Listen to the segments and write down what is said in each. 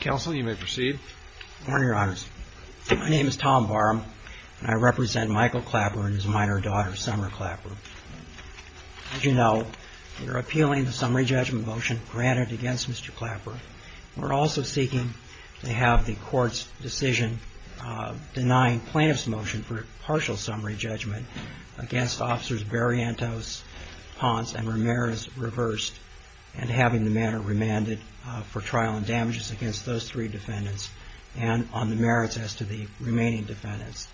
Council, you may proceed. Good morning, Your Honors. My name is Tom Barham, and I represent Michael Clapper and his minor daughter, Summer Clapper. As you know, we're appealing the summary judgment motion granted against Mr. Clapper. We're also seeking to have the court's decision denying plaintiff's motion for partial summary judgment against Officers Barrientos, Ponce, and Ramirez reversed and having the matter remanded for trial and damages against those three defendants and on the merits as to the remaining defendants.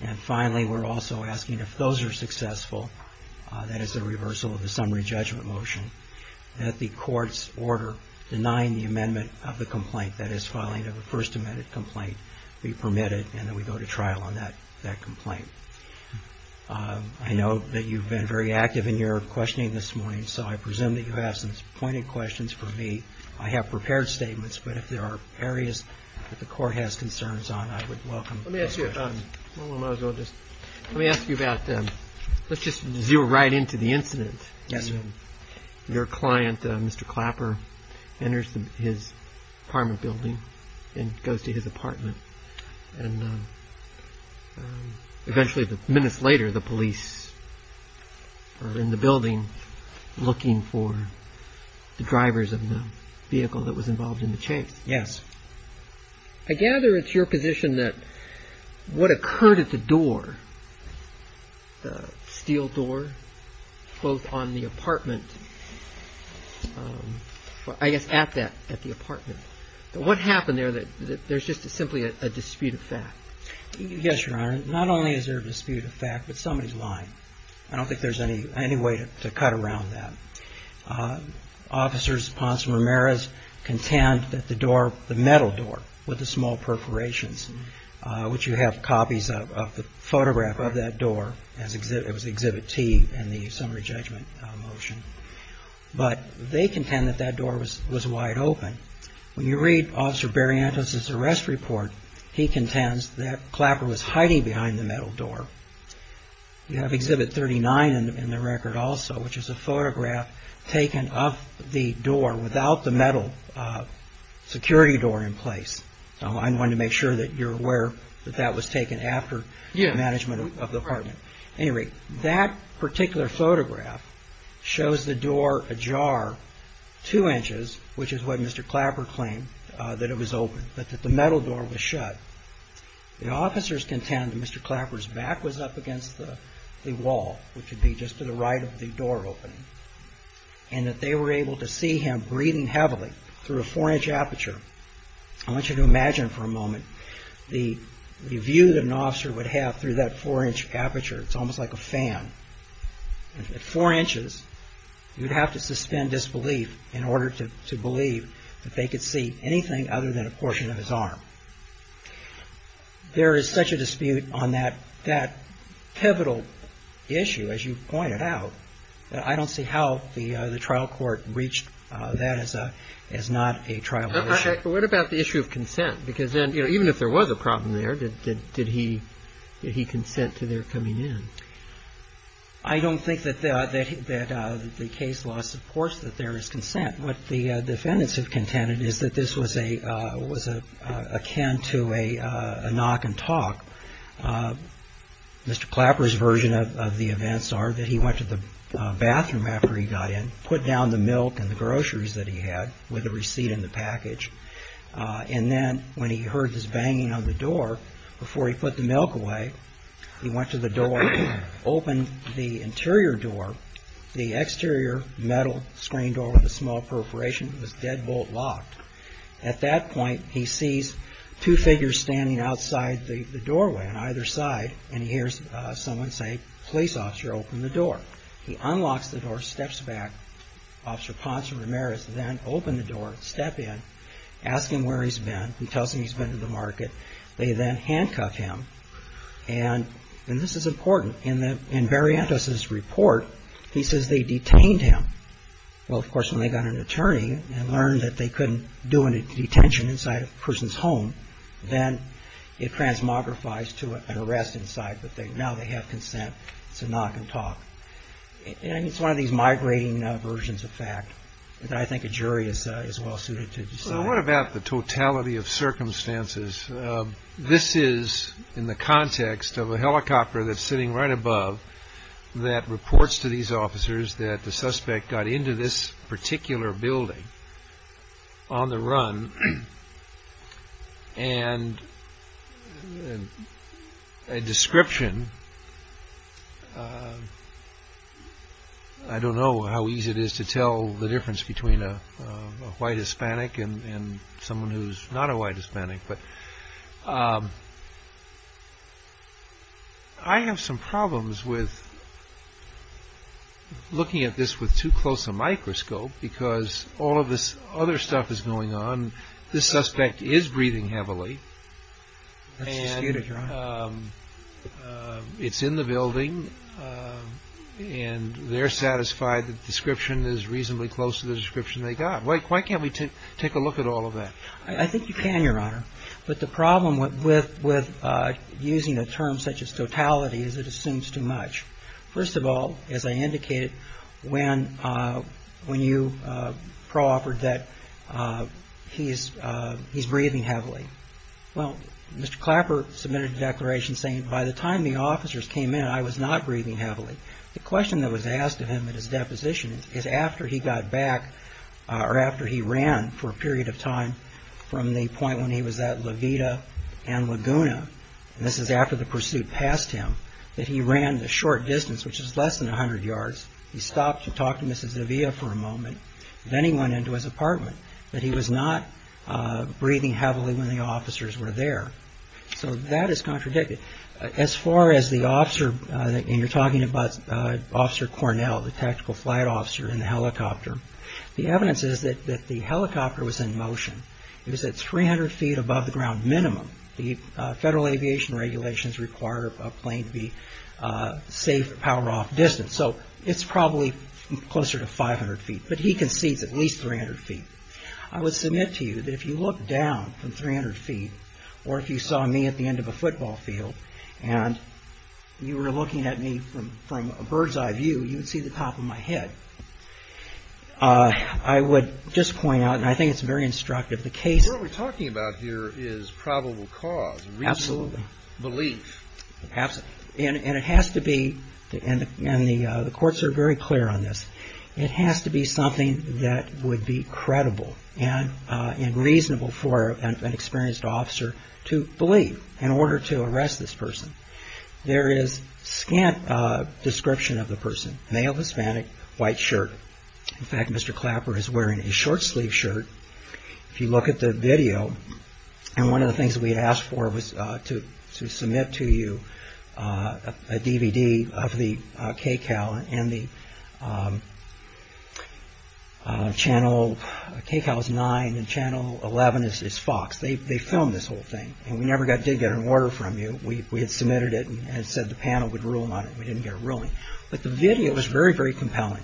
And finally, we're also asking if those are successful, that is the reversal of the summary judgment motion, that the court's order denying the amendment of the complaint, that is filing of the first amended complaint, be permitted and that we go to trial on that complaint. I know that you've been very active in your questioning this morning, so I presume that you have some pointed questions for me. I have prepared statements, but if there are areas that the court has concerns on, I would welcome those questions. Let me ask you about, let's just zero right into the incident. Yes, sir. Your client, Mr. Clapper, enters his apartment building and goes to his apartment. And eventually, minutes later, the police are in the building looking for the drivers of the vehicle that was involved in the chase. Yes. I gather it's your position that what occurred at the door, the steel door, both on the apartment, I guess at that, at the apartment, that what happened there, that there's just simply a dispute of fact. Yes, Your Honor. Not only is there a dispute of fact, but somebody's lying. I don't think there's any way to cut around that. Officers, Ponce Ramirez, contend that the door, the metal door with the small perforations, which you have copies of the photograph of that door, it was Exhibit T in the summary judgment motion. But they contend that that door was wide open. When you read Officer Barrientos' arrest report, he contends that Clapper was hiding behind the metal door. You have Exhibit 39 in the record also, which is a photograph taken of the door without the metal security door in place. I wanted to make sure that you're aware that that was taken after management of the apartment. Anyway, that particular photograph shows the door ajar two inches, which is what Mr. Clapper claimed, that it was open, but that the metal door was shut. The officers contend that Mr. Clapper's back was up against the wall, which would be just to the right of the door opening, and that they were able to see him breathing heavily through a four-inch aperture. I want you to imagine for a moment the view that an officer would have through that four-inch aperture. It's almost like a fan. At four inches, you'd have to suspend disbelief in order to believe that they could see anything other than a portion of his arm. There is such a dispute on that pivotal issue, as you pointed out, that I don't see how the trial court reached that as not a trial issue. What about the issue of consent? Because even if there was a problem there, did he consent to their coming in? I don't think that the case law supports that there is consent. What the defendants have contended is that this was akin to a knock and talk. Mr. Clapper's version of the events are that he went to the bathroom after he got in, put down the milk and the groceries that he had with a receipt in the package, and then when he heard this banging on the door, before he put the milk away, he went to the door, opened the interior door. The exterior metal screen door with a small perforation was deadbolt locked. At that point, he sees two figures standing outside the doorway on either side, and he hears someone say, police officer, open the door. He unlocks the door, steps back. Officer Ponce Ramirez then opened the door, stepped in, asked him where he's been. He tells him he's been to the market. They then handcuffed him, and this is important. In Variantos's report, he says they detained him. Well, of course, when they got an attorney and learned that they couldn't do a detention inside a person's home, then it transmogrifies to an arrest inside, but now they have consent. It's a knock and talk, and it's one of these migrating versions of fact that I think a jury is well suited to decide. Well, what about the totality of circumstances? This is in the context of a helicopter that's sitting right above that reports to these officers that the suspect got into this particular building on the run, and a description, I don't know how easy it is to tell the difference between a white Hispanic and someone who's not a white Hispanic, but I have some problems with looking at this with too close a microscope because all of this other stuff is going on. This suspect is breathing heavily, and it's in the building, and they're satisfied that the description is reasonably close to the description they got. Why can't we take a look at all of that? I think you can, Your Honor, but the problem with using a term such as totality is it assumes too much. First of all, as I indicated, when you proffered that he's breathing heavily, well, Mr. Clapper submitted a declaration saying by the time the officers came in, I was not breathing heavily. The question that was asked of him at his deposition is after he got back, or after he ran for a period of time from the point when he was at La Vida and Laguna, and this is after the pursuit passed him, that he ran the short distance, which is less than 100 yards. He stopped to talk to Mrs. Zavia for a moment. Then he went into his apartment, but he was not breathing heavily when the officers were there. So that is contradicted. As far as the officer, and you're talking about Officer Cornell, the tactical flight officer in the helicopter, the evidence is that the helicopter was in motion. It was at 300 feet above the ground minimum. The federal aviation regulations require a plane to be safe at power-off distance, so it's probably closer to 500 feet, but he concedes at least 300 feet. I would submit to you that if you looked down from 300 feet, or if you saw me at the end of a football field, and you were looking at me from a bird's-eye view, you would see the top of my head. I would just point out, and I think it's very instructive, the case... What we're talking about here is probable cause, reasonable belief. Absolutely. And it has to be, and the courts are very clear on this, it has to be something that would be credible and reasonable for an experienced officer to believe in order to arrest this person. There is scant description of the person. Male, Hispanic, white shirt. In fact, Mr. Clapper is wearing a short-sleeved shirt. If you look at the video, and one of the things we had asked for was to submit to you a DVD of the KCAL, and the channel, KCAL is nine, and channel 11 is Fox. They filmed this whole thing, and we never did get an order from you. We had submitted it and said the panel would rule on it, and we didn't get a ruling. But the video is very, very compelling.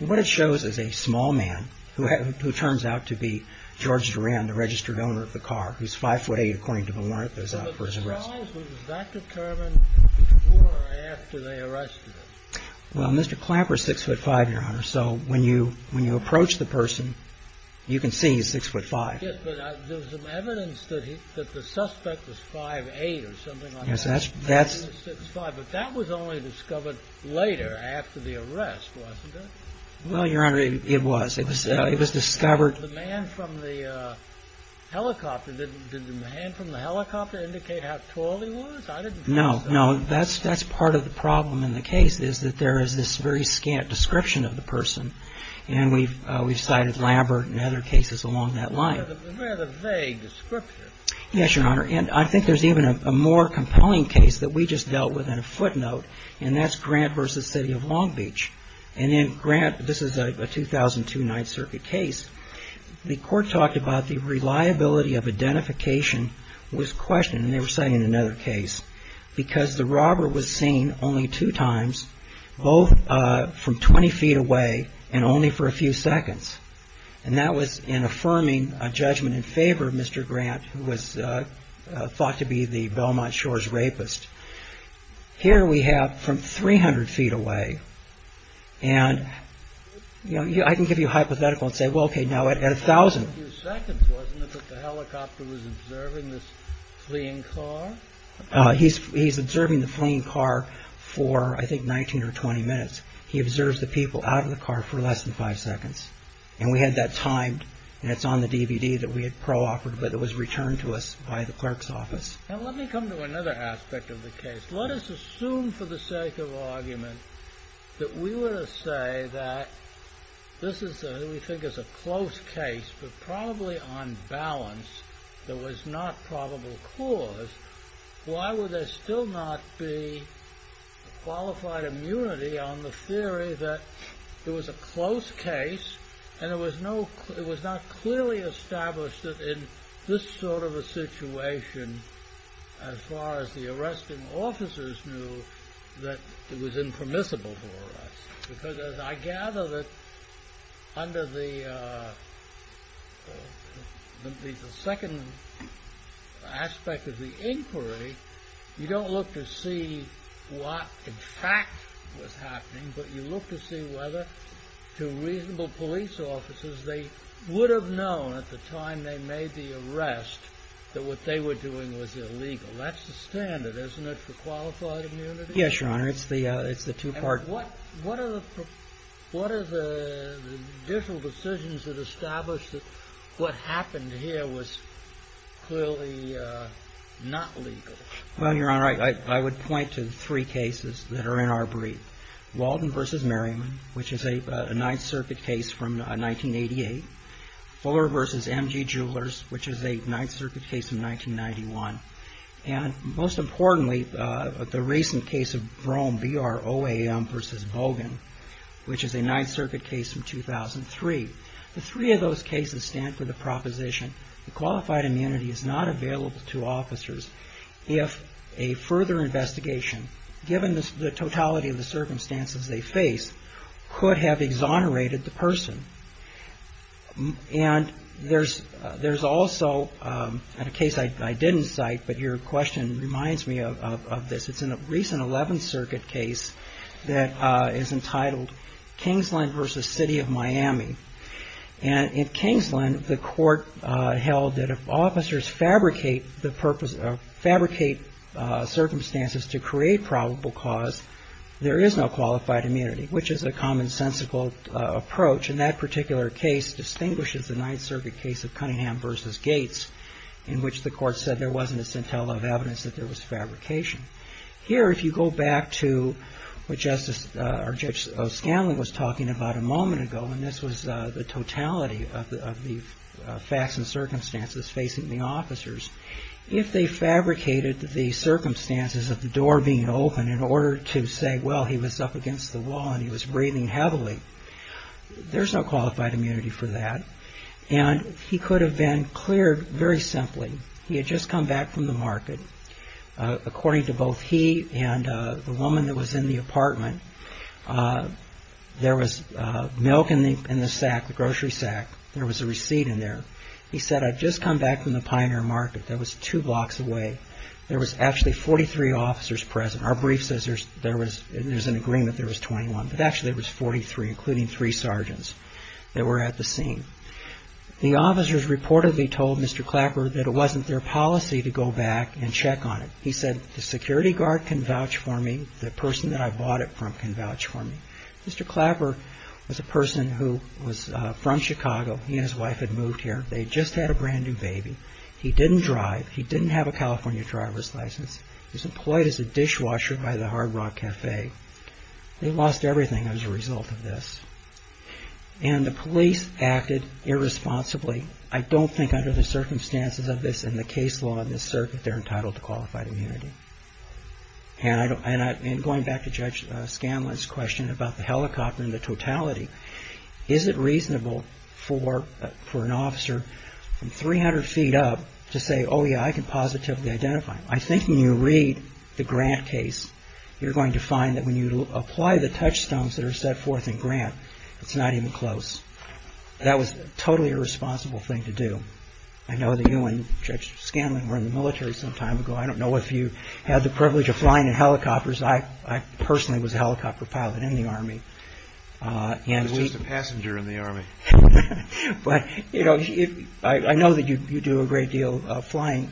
What it shows is a small man who turns out to be George Duran, the registered owner of the car, who's 5'8", according to the warrant that was out for his arrest. But the size was not determined before or after they arrested him. Well, Mr. Clapper is 6'5", Your Honor, so when you approach the person, you can see he's 6'5". Yes, but there was some evidence that the suspect was 5'8", or something like that. Yes, that's... Later after the arrest, wasn't it? Well, Your Honor, it was. It was discovered... The man from the helicopter, did the man from the helicopter indicate how tall he was? No, no. That's part of the problem in the case is that there is this very scant description of the person, and we've cited Lambert and other cases along that line. It's a rather vague description. Yes, Your Honor, and I think there's even a more compelling case that we just dealt with in a footnote, and that's Grant v. City of Long Beach. And in Grant, this is a 2002 Ninth Circuit case, the court talked about the reliability of identification was questioned, and they were citing another case, because the robber was seen only two times, both from 20 feet away and only for a few seconds. And that was in affirming a judgment in favor of Mr. Grant, who was thought to be the Belmont Shores rapist. Here we have from 300 feet away, and I can give you a hypothetical and say, well, okay, now at 1,000... A few seconds, wasn't it, that the helicopter was observing this fleeing car? He's observing the fleeing car for, I think, 19 or 20 minutes. He observes the people out of the car for less than five seconds. And we had that timed, and it's on the DVD that we had pro-offered, but it was returned to us by the clerk's office. Now let me come to another aspect of the case. Let us assume, for the sake of argument, that we were to say that this is what we think is a close case, but probably on balance, there was not probable cause. Why would there still not be qualified immunity on the theory that it was a close case, and it was not clearly established that in this sort of a situation, as far as the arresting officers knew, that it was impermissible for us? Because I gather that under the second aspect of the inquiry, you don't look to see what, in fact, was happening, but you look to see whether, to reasonable police officers, they would have known at the time they made the arrest that what they were doing was illegal. That's the standard, isn't it, for qualified immunity? Yes, Your Honor, it's the two-part... But what are the digital decisions that establish that what happened here was clearly not legal? Well, Your Honor, I would point to three cases that are in our brief. Walden v. Merriman, which is a Ninth Circuit case from 1988. Fuller v. M.G. Jewelers, which is a Ninth Circuit case from 1991. And most importantly, the recent case of Vroom v. Bogan, which is a Ninth Circuit case from 2003. The three of those cases stand for the proposition that qualified immunity is not available to officers if a further investigation, given the totality of the circumstances they face, could have exonerated the person. And there's also a case I didn't cite, but your question reminds me of this. It's a recent Eleventh Circuit case that is entitled Kingsland v. City of Miami. And in Kingsland, the court held that if officers fabricate circumstances to create probable cause, there is no qualified immunity, which is a commonsensical approach. And that particular case distinguishes the Ninth Circuit case of Cunningham v. Gates, in which the court said there wasn't a scintilla of evidence that there was fabrication. Here, if you go back to what Justice or Judge O'Scanlan was talking about a moment ago, and this was the totality of the facts and circumstances facing the officers, if they fabricated the circumstances of the door being open in order to say, well, he was up against the wall and he was breathing heavily, there's no qualified immunity for that. And he could have been cleared very simply. He had just come back from the market. According to both he and the woman that was in the apartment, there was milk in the sack, the grocery sack. There was a receipt in there. He said, I've just come back from the Pioneer Market. That was two blocks away. There was actually 43 officers present. Our brief says there's an agreement there was 21, but actually it was 43, including three sergeants that were at the scene. The officers reportedly told Mr. Clapper that it wasn't their policy to go back and check on it. He said, the security guard can vouch for me. The person that I bought it from can vouch for me. Mr. Clapper was a person who was from Chicago. He and his wife had moved here. They had just had a brand-new baby. He didn't drive. He didn't have a California driver's license. He was employed as a dishwasher by the Hard Rock Cafe. They lost everything as a result of this. And the police acted irresponsibly. I don't think under the circumstances of this and the case law in this circuit, they're entitled to qualified immunity. And going back to Judge Scanlon's question about the helicopter and the totality, is it reasonable for an officer from 300 feet up to say, oh, yeah, I can positively identify him? I think when you read the Grant case, you're going to find that when you apply the touchstones that are set forth in Grant, it's not even close. That was a totally irresponsible thing to do. I know that you and Judge Scanlon were in the military some time ago. I don't know if you had the privilege of flying in helicopters. I personally was a helicopter pilot in the Army. I was just a passenger in the Army. But, you know, I know that you do a great deal flying,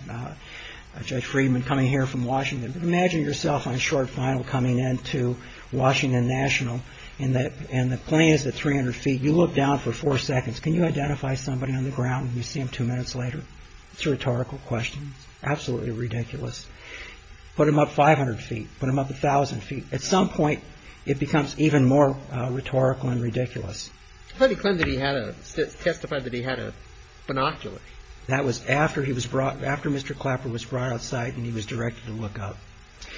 Judge Friedman, coming here from Washington. But imagine yourself on short final coming into Washington National and the plane is at 300 feet. You look down for four seconds. Can you identify somebody on the ground and you see them two minutes later? It's a rhetorical question. It's absolutely ridiculous. Put them up 500 feet. Put them up 1,000 feet. At some point, it becomes even more rhetorical and ridiculous. How do you claim that he testified that he had a binocular? That was after Mr. Clapper was brought outside and he was directed to look up.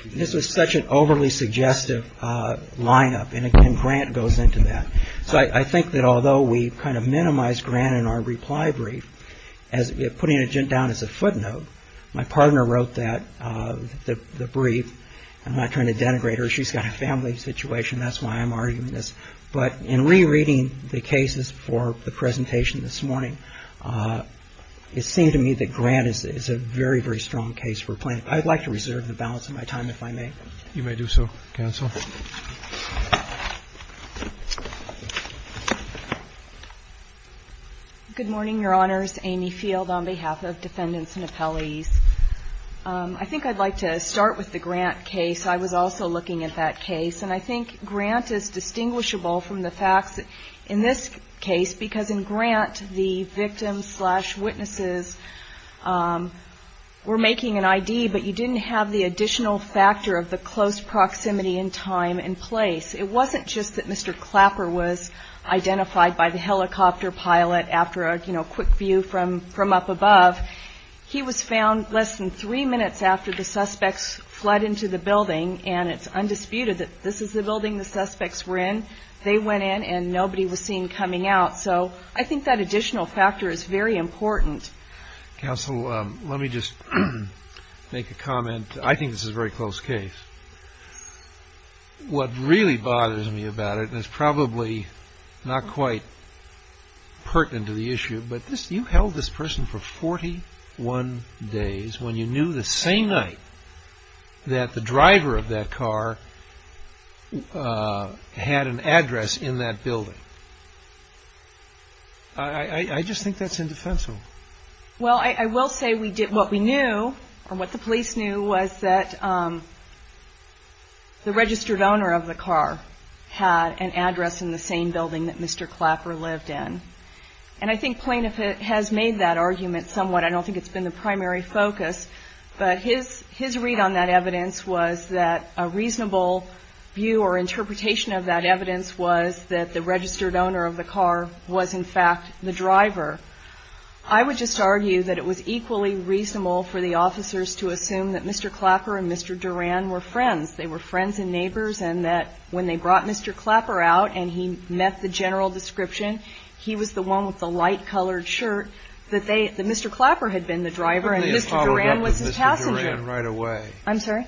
This was such an overly suggestive lineup. And, again, Grant goes into that. So I think that although we kind of minimized Grant in our reply brief, putting it down as a footnote, my partner wrote that, the brief. I'm not trying to denigrate her. She's got a family situation. That's why I'm arguing this. But in rereading the cases for the presentation this morning, it seemed to me that Grant is a very, very strong case for a plaintiff. I'd like to reserve the balance of my time, if I may. You may do so, counsel. Good morning, Your Honors. Amy Field on behalf of defendants and appellees. I think I'd like to start with the Grant case. I was also looking at that case. And I think Grant is distinguishable from the facts in this case, because in Grant the victims slash witnesses were making an ID, but you didn't have the additional factor of the close proximity in time and place. It wasn't just that Mr. Clapper was identified by the helicopter pilot after a, you know, quick view from up above. He was found less than three minutes after the suspects fled into the building, and it's undisputed that this is the building the suspects were in. They went in and nobody was seen coming out. So I think that additional factor is very important. Counsel, let me just make a comment. I think this is a very close case. What really bothers me about it, and it's probably not quite pertinent to the issue, but you held this person for 41 days when you knew the same night that the driver of that car had an address in that building. I just think that's indefensible. Well, I will say what we knew, or what the police knew, was that the registered owner of the car had an address in the same building that Mr. Clapper lived in. And I think Plainiff has made that argument somewhat. I don't think it's been the primary focus. But his read on that evidence was that a reasonable view or interpretation of that evidence was that the registered owner of the car was, in fact, the driver. I would just argue that it was equally reasonable for the officers to assume that Mr. Clapper and Mr. Duran were friends. They were friends and neighbors, and that when they brought Mr. Clapper out and he met the general description, he was the one with the light-colored shirt, that Mr. Clapper had been the driver and Mr. Duran was his passenger.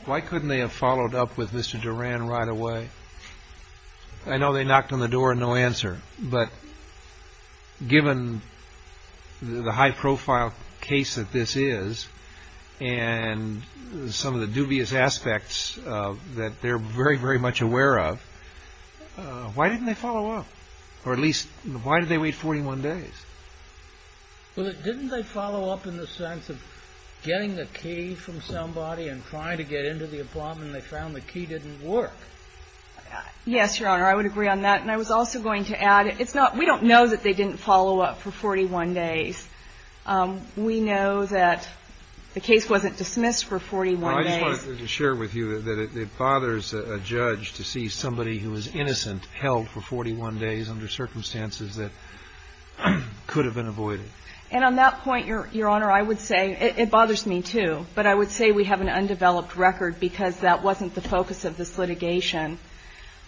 Why couldn't they have followed up with Mr. Duran right away? I know they knocked on the door and no answer. But given the high-profile case that this is and some of the dubious aspects that they're very, very much aware of, why didn't they follow up? Or at least why did they wait 41 days? Well, didn't they follow up in the sense of getting the key from somebody and trying to get into the apartment and they found the key didn't work? Yes, Your Honor. I would agree on that. And I was also going to add, it's not we don't know that they didn't follow up for 41 days. We know that the case wasn't dismissed for 41 days. I just wanted to share with you that it bothers a judge to see somebody who is innocent held for 41 days under circumstances that could have been avoided. And on that point, Your Honor, I would say it bothers me, too. But I would say we have an undeveloped record because that wasn't the focus of this litigation.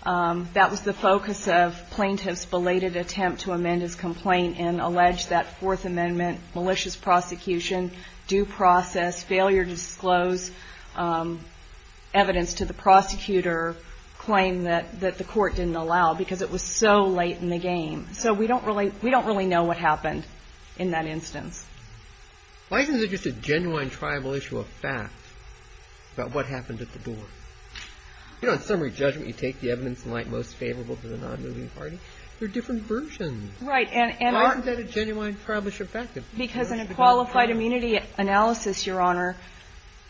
That was the focus of plaintiffs' belated attempt to amend his complaint and allege that Fourth Amendment malicious prosecution, due process, failure to disclose evidence to the prosecutor, claim that the court didn't allow because it was so late in the game. So we don't really know what happened in that instance. Why isn't it just a genuine tribal issue of fact about what happened at the door? You know, in summary judgment, you take the evidence and like most favorable to the non-moving party. They're different versions. Right. Why isn't that a genuine tribal issue of fact? Because in a qualified immunity analysis, Your Honor,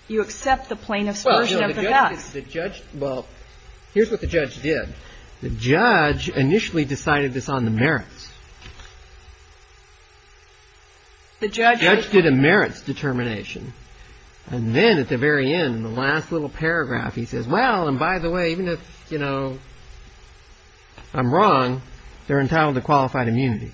you accept the plaintiff's version of the facts. Well, here's what the judge did. The judge initially decided this on the merits. The judge did a merits determination. And then at the very end, the last little paragraph, he says, well, and by the way, even if, you know, I'm wrong, they're entitled to qualified immunity.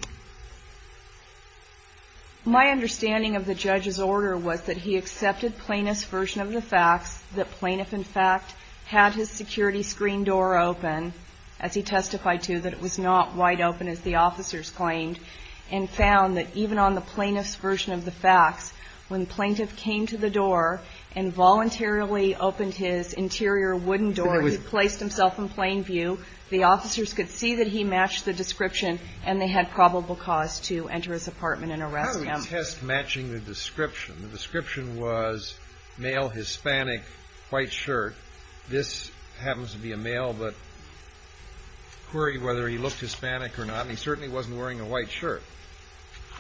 My understanding of the judge's order was that he accepted plaintiff's version of the facts, that plaintiff, in fact, had his security screen door open, as he testified to, that it was not wide open, as the officers claimed, and found that even on the plaintiff's version of the facts, when the plaintiff came to the door and voluntarily opened his interior wooden door, he placed himself in plain view. The officers could see that he matched the description, and they had probable cause to enter his apartment and arrest him. How did he test matching the description? The description was male, Hispanic, white shirt. This happens to be a male, but query whether he looked Hispanic or not. And he certainly wasn't wearing a white shirt.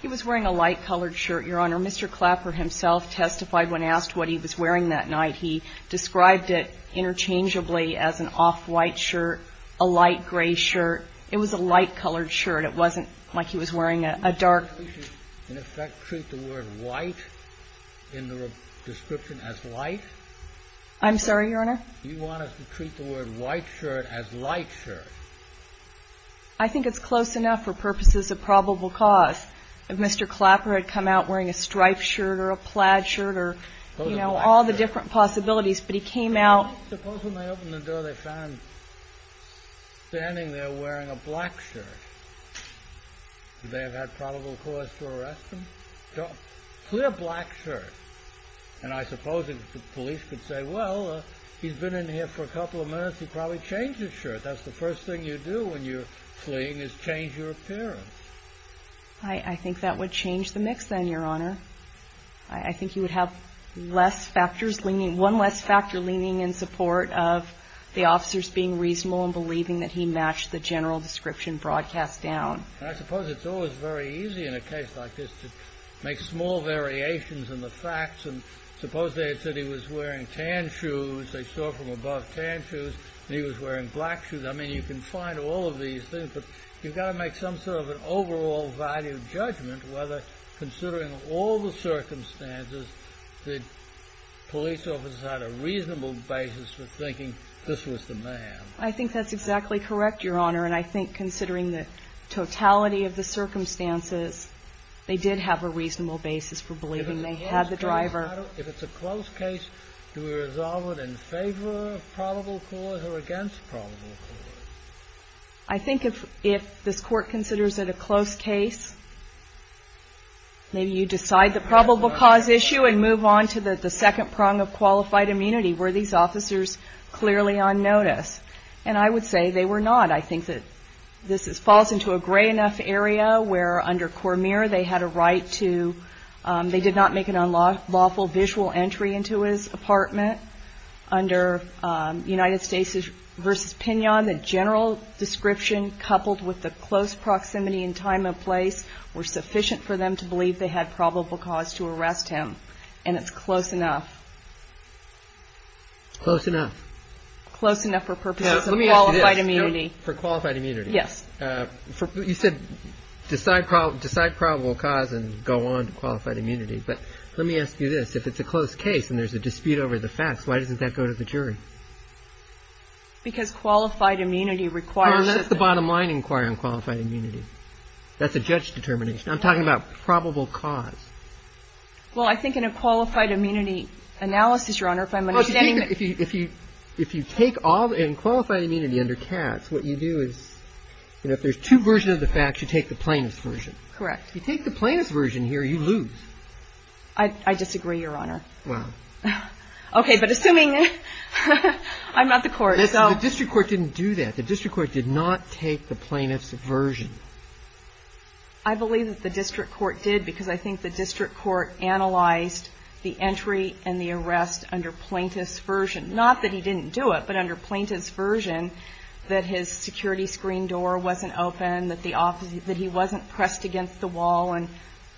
He was wearing a light-colored shirt, Your Honor. Mr. Clapper himself testified when asked what he was wearing that night. He described it interchangeably as an off-white shirt, a light-gray shirt. It was a light-colored shirt. It wasn't like he was wearing a dark. Did you, in effect, treat the word white in the description as light? I'm sorry, Your Honor? You wanted to treat the word white shirt as light shirt. I think it's close enough for purposes of probable cause. Mr. Clapper had come out wearing a striped shirt or a plaid shirt or, you know, all the different possibilities, but he came out. Suppose when they opened the door, they found him standing there wearing a black shirt. Did they have had probable cause to arrest him? Clear black shirt. And I suppose the police could say, well, he's been in here for a couple of minutes. He probably changed his shirt. That's the first thing you do when you're fleeing is change your appearance. I think that would change the mix then, Your Honor. I think you would have one less factor leaning in support of the officers being reasonable and believing that he matched the general description broadcast down. I suppose it's always very easy in a case like this to make small variations in the facts. And suppose they had said he was wearing tan shoes, they saw from above tan shoes, and he was wearing black shoes. I mean, you can find all of these things, but you've got to make some sort of an overall value judgment whether, considering all the circumstances, the police officers had a reasonable basis for thinking this was the man. I think that's exactly correct, Your Honor. And I think considering the totality of the circumstances, they did have a reasonable basis for believing they had the driver. If it's a close case, do we resolve it in favor of probable cause or against probable cause? I think if this court considers it a close case, maybe you decide the probable cause issue and move on to the second prong of qualified immunity. Were these officers clearly on notice? And I would say they were not. I think that this falls into a gray enough area where, under Cormier, they had a right to – they did not make an unlawful visual entry into his apartment. Under United States v. Pignon, the general description coupled with the close proximity and time and place were sufficient for them to believe they had probable cause to arrest him. And it's close enough. Close enough. Close enough for purposes of qualified immunity. For qualified immunity. Yes. You said decide probable cause and go on to qualified immunity. But let me ask you this. If it's a close case and there's a dispute over the facts, why doesn't that go to the jury? Because qualified immunity requires – Well, that's the bottom line inquiry on qualified immunity. That's a judge determination. I'm talking about probable cause. Well, I think in a qualified immunity analysis, Your Honor, if I'm understanding – If you take all – in qualified immunity under Katz, what you do is, you know, if there's two versions of the facts, you take the plaintiff's version. Correct. If you take the plaintiff's version here, you lose. I disagree, Your Honor. Well. Okay. But assuming – I'm not the court, so – The district court didn't do that. The district court did not take the plaintiff's version. I believe that the district court did because I think the district court analyzed the entry and the arrest under plaintiff's version. Not that he didn't do it, but under plaintiff's version, that his security screen door wasn't open, that he wasn't pressed against the wall and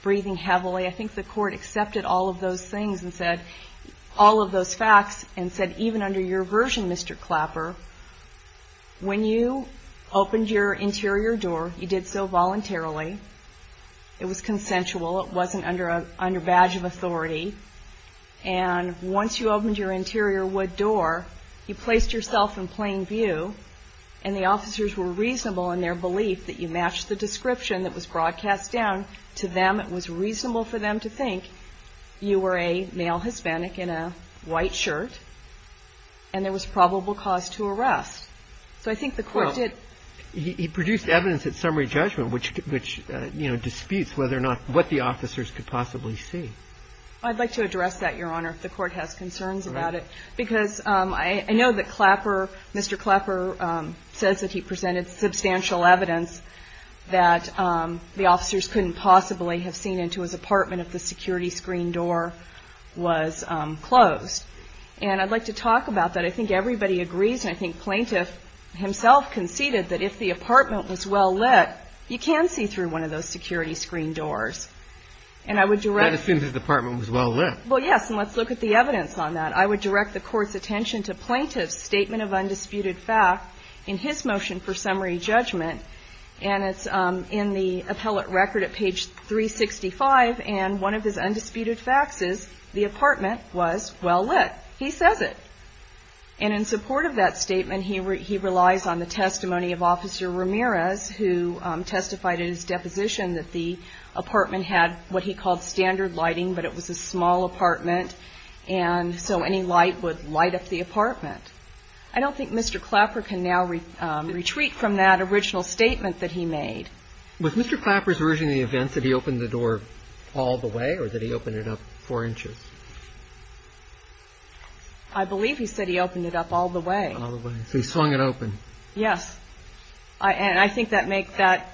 breathing heavily. I think the court accepted all of those things and said – all of those facts and said, even under your version, Mr. Clapper, when you opened your interior door, you did so voluntarily. It was consensual. It wasn't under badge of authority. And once you opened your interior wood door, you placed yourself in plain view, and the officers were reasonable in their belief that you matched the description that was broadcast down to them. It was reasonable for them to think you were a male Hispanic in a white shirt, and there was probable cause to arrest. So I think the court did – Well, he produced evidence at summary judgment, which, you know, disputes whether or not – what the officers could possibly see. I'd like to address that, Your Honor, if the court has concerns about it. All right. Because I know that Clapper – Mr. Clapper says that he presented substantial evidence that the officers couldn't possibly have seen into his apartment if the security screen door was closed. And I'd like to talk about that. I think everybody agrees, and I think Plaintiff himself conceded, that if the apartment was well lit, you can see through one of those security screen doors. And I would direct – That assumes his apartment was well lit. Well, yes. And let's look at the evidence on that. I would direct the Court's attention to Plaintiff's statement of undisputed fact in his motion for summary judgment. And it's in the appellate record at page 365. And one of his undisputed facts is the apartment was well lit. He says it. And in support of that statement, he relies on the testimony of Officer Ramirez, who testified in his deposition that the apartment had what he called standard lighting, but it was a small apartment, and so any light would light up the apartment. I don't think Mr. Clapper can now retreat from that original statement that he made. Was Mr. Clapper's version of the event that he opened the door all the way or that he opened it up four inches? I believe he said he opened it up all the way. All the way. So he swung it open. Yes. And I think that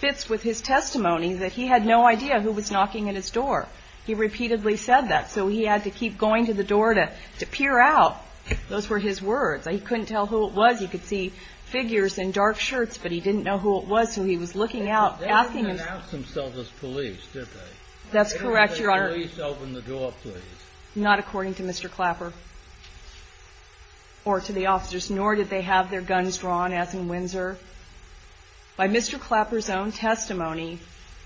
fits with his testimony, that he had no idea who was knocking at his door. He repeatedly said that. So he had to keep going to the door to peer out. Those were his words. He couldn't tell who it was. He could see figures in dark shirts, but he didn't know who it was, so he was looking out, asking him. They didn't pronounce themselves as police, did they? That's correct, Your Honor. They didn't say, police, open the door, please. Not according to Mr. Clapper or to the officers, nor did they have their guns drawn, as in Windsor. By Mr. Clapper's own testimony,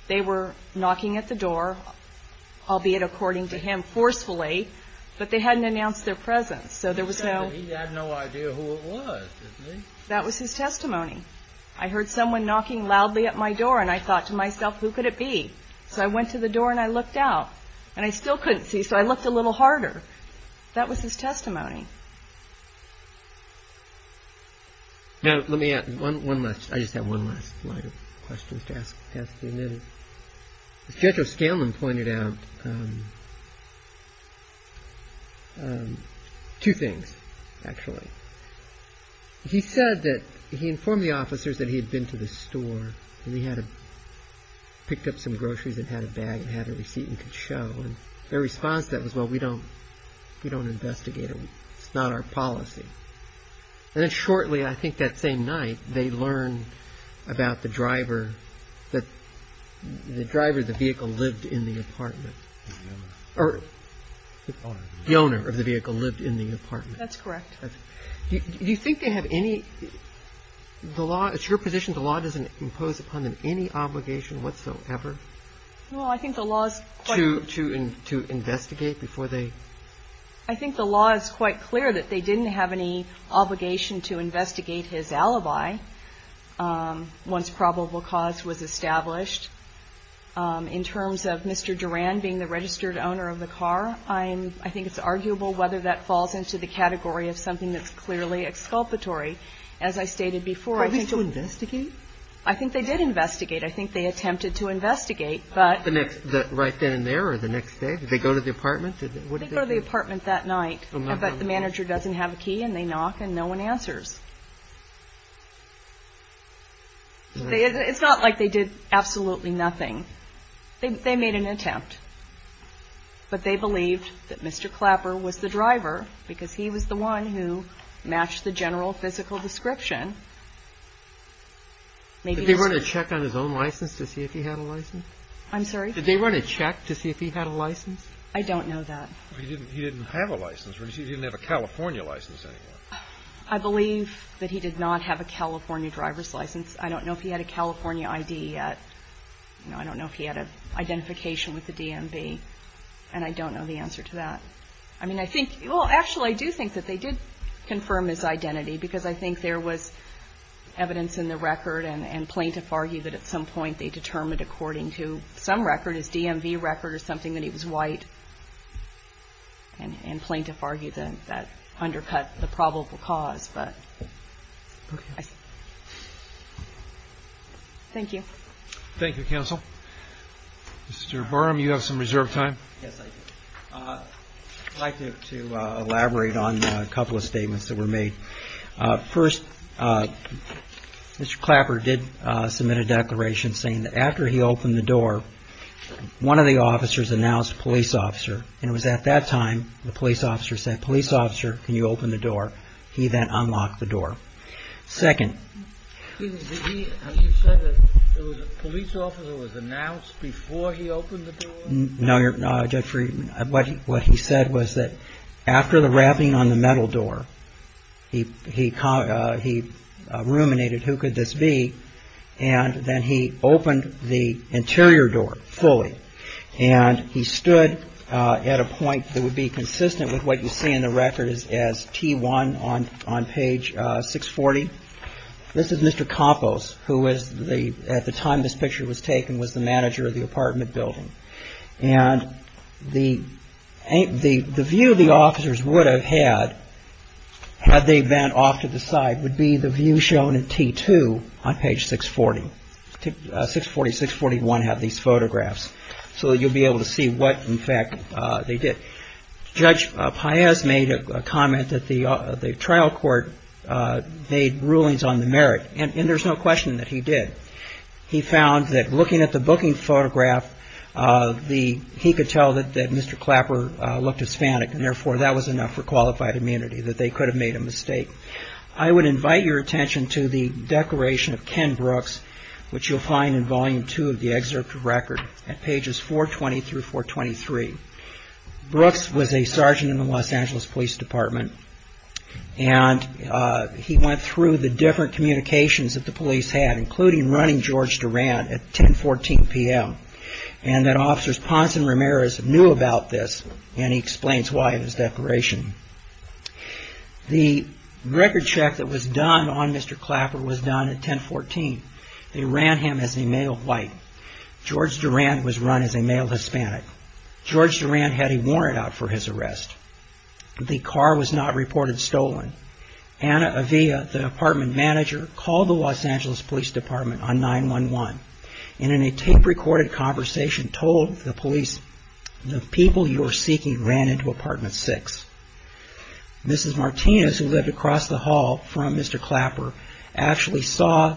they were knocking at the door, albeit according to him forcefully, but they hadn't announced their presence, so there was no... He said that he had no idea who it was, didn't he? That was his testimony. I heard someone knocking loudly at my door, and I thought to myself, who could it be? So I went to the door and I looked out, and I still couldn't see, so I looked a little harder. That was his testimony. Now, let me add one last... I just have one last line of questions to ask the witness. Judge O'Scanlan pointed out two things, actually. He said that he informed the officers that he had been to the store, and he had picked up some groceries and had a bag and had a receipt and could show, and their response to that was, well, we don't investigate it. It's not our policy. And then shortly, I think that same night, they learned about the driver, that the driver of the vehicle lived in the apartment, or the owner of the vehicle lived in the apartment. That's correct. Do you think they have any... It's your position the law doesn't impose upon them any obligation whatsoever? Well, I think the law is quite... To investigate before they... I think the law is quite clear that they didn't have any obligation to investigate his alibi once probable cause was established. In terms of Mr. Duran being the registered owner of the car, I think it's arguable whether that falls into the category of something that's clearly exculpatory. As I stated before, I think... Probably to investigate? I think they did investigate. I think they attempted to investigate, but... Right then and there or the next day? Did they go to the apartment? They go to the apartment that night, but the manager doesn't have a key, and they knock, and no one answers. It's not like they did absolutely nothing. They made an attempt, but they believed that Mr. Clapper was the driver because he was the one who matched the general physical description. Did they run a check on his own license to see if he had a license? I'm sorry? Did they run a check to see if he had a license? I don't know that. He didn't have a license. He didn't have a California license anymore. I believe that he did not have a California driver's license. I don't know if he had a California ID yet. I don't know if he had an identification with the DMV, and I don't know the answer to that. I mean, I think... Well, actually, I do think that they did confirm his identity because I think there was evidence in the record and plaintiff argued that at some point they determined according to some record, his DMV record or something, that he was white, and plaintiff argued that that undercut the probable cause. Thank you. Thank you, counsel. Mr. Burram, you have some reserved time. Yes, I do. I'd like to elaborate on a couple of statements that were made. First, Mr. Clapper did submit a declaration saying that after he opened the door, one of the officers announced police officer, and it was at that time the police officer said, police officer, can you open the door? He then unlocked the door. Second... Excuse me, did he... Have you said that it was a police officer who was announced before he opened the door? No, Judge Friedman. What he said was that after the rapping on the metal door, he ruminated who could this be, and then he opened the interior door fully, and he stood at a point that would be consistent with what you see in the record as T1 on page 640. This is Mr. Campos, who at the time this picture was taken, was the manager of the apartment building. And the view the officers would have had, had they been off to the side, would be the view shown in T2 on page 640. 640, 641 have these photographs, so you'll be able to see what, in fact, they did. Judge Paez made a comment that the trial court made rulings on the merit, and there's no question that he did. He found that looking at the booking photograph, he could tell that Mr. Clapper looked Hispanic, and therefore that was enough for qualified immunity, that they could have made a mistake. I would invite your attention to the declaration of Ken Brooks, which you'll find in volume two of the excerpt of record at pages 420 through 423. Brooks was a sergeant in the Los Angeles Police Department, and he went through the different communications that the police had, including running George Durant at 1014 p.m., and that officers Ponson Ramirez knew about this, and he explains why in his declaration. The record check that was done on Mr. Clapper was done at 1014. They ran him as a male white. George Durant was run as a male Hispanic. George Durant had a warrant out for his arrest. The car was not reported stolen. Ana Avila, the apartment manager, called the Los Angeles Police Department on 911, and in a tape-recorded conversation told the police, the people you are seeking ran into apartment six. Mrs. Martinez, who lived across the hall from Mr. Clapper, actually saw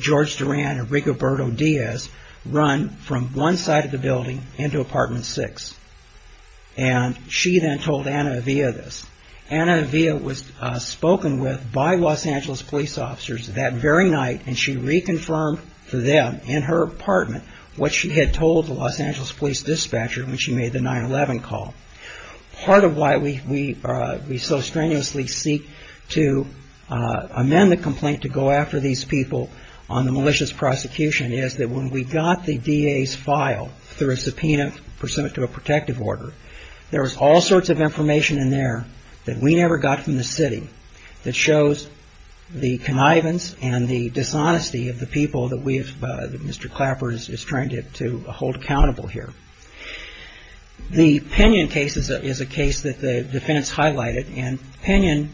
George Durant and Rigoberto Diaz run from one side of the building into apartment six, and she then told Ana Avila this. Ana Avila was spoken with by Los Angeles police officers that very night, and she reconfirmed to them in her apartment what she had told the Los Angeles police dispatcher when she made the 911 call. Part of why we so strenuously seek to amend the complaint to go after these people on the malicious prosecution is that when we got the DA's file through a subpoena pursuant to a protective order, there was all sorts of information in there that we never got from the city that shows the connivance and the dishonesty of the people that Mr. Clapper is trying to hold accountable here. The Pinion case is a case that the defense highlighted, and Pinion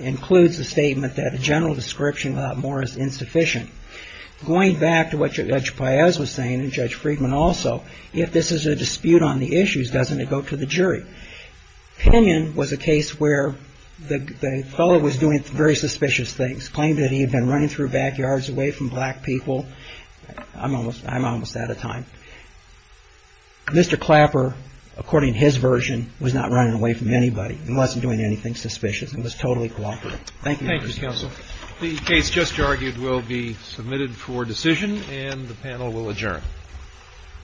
includes the statement that a general description without more is insufficient. Going back to what Judge Paez was saying and Judge Friedman also, if this is a dispute on the issues, doesn't it go to the jury? Pinion was a case where the fellow was doing very suspicious things, claimed that he had been running through backyards away from black people. I'm almost out of time. Mr. Clapper, according to his version, was not running away from anybody. He wasn't doing anything suspicious. It was totally cooperative. Thank you. Thank you, Counsel. The case just argued will be submitted for decision, and the panel will adjourn.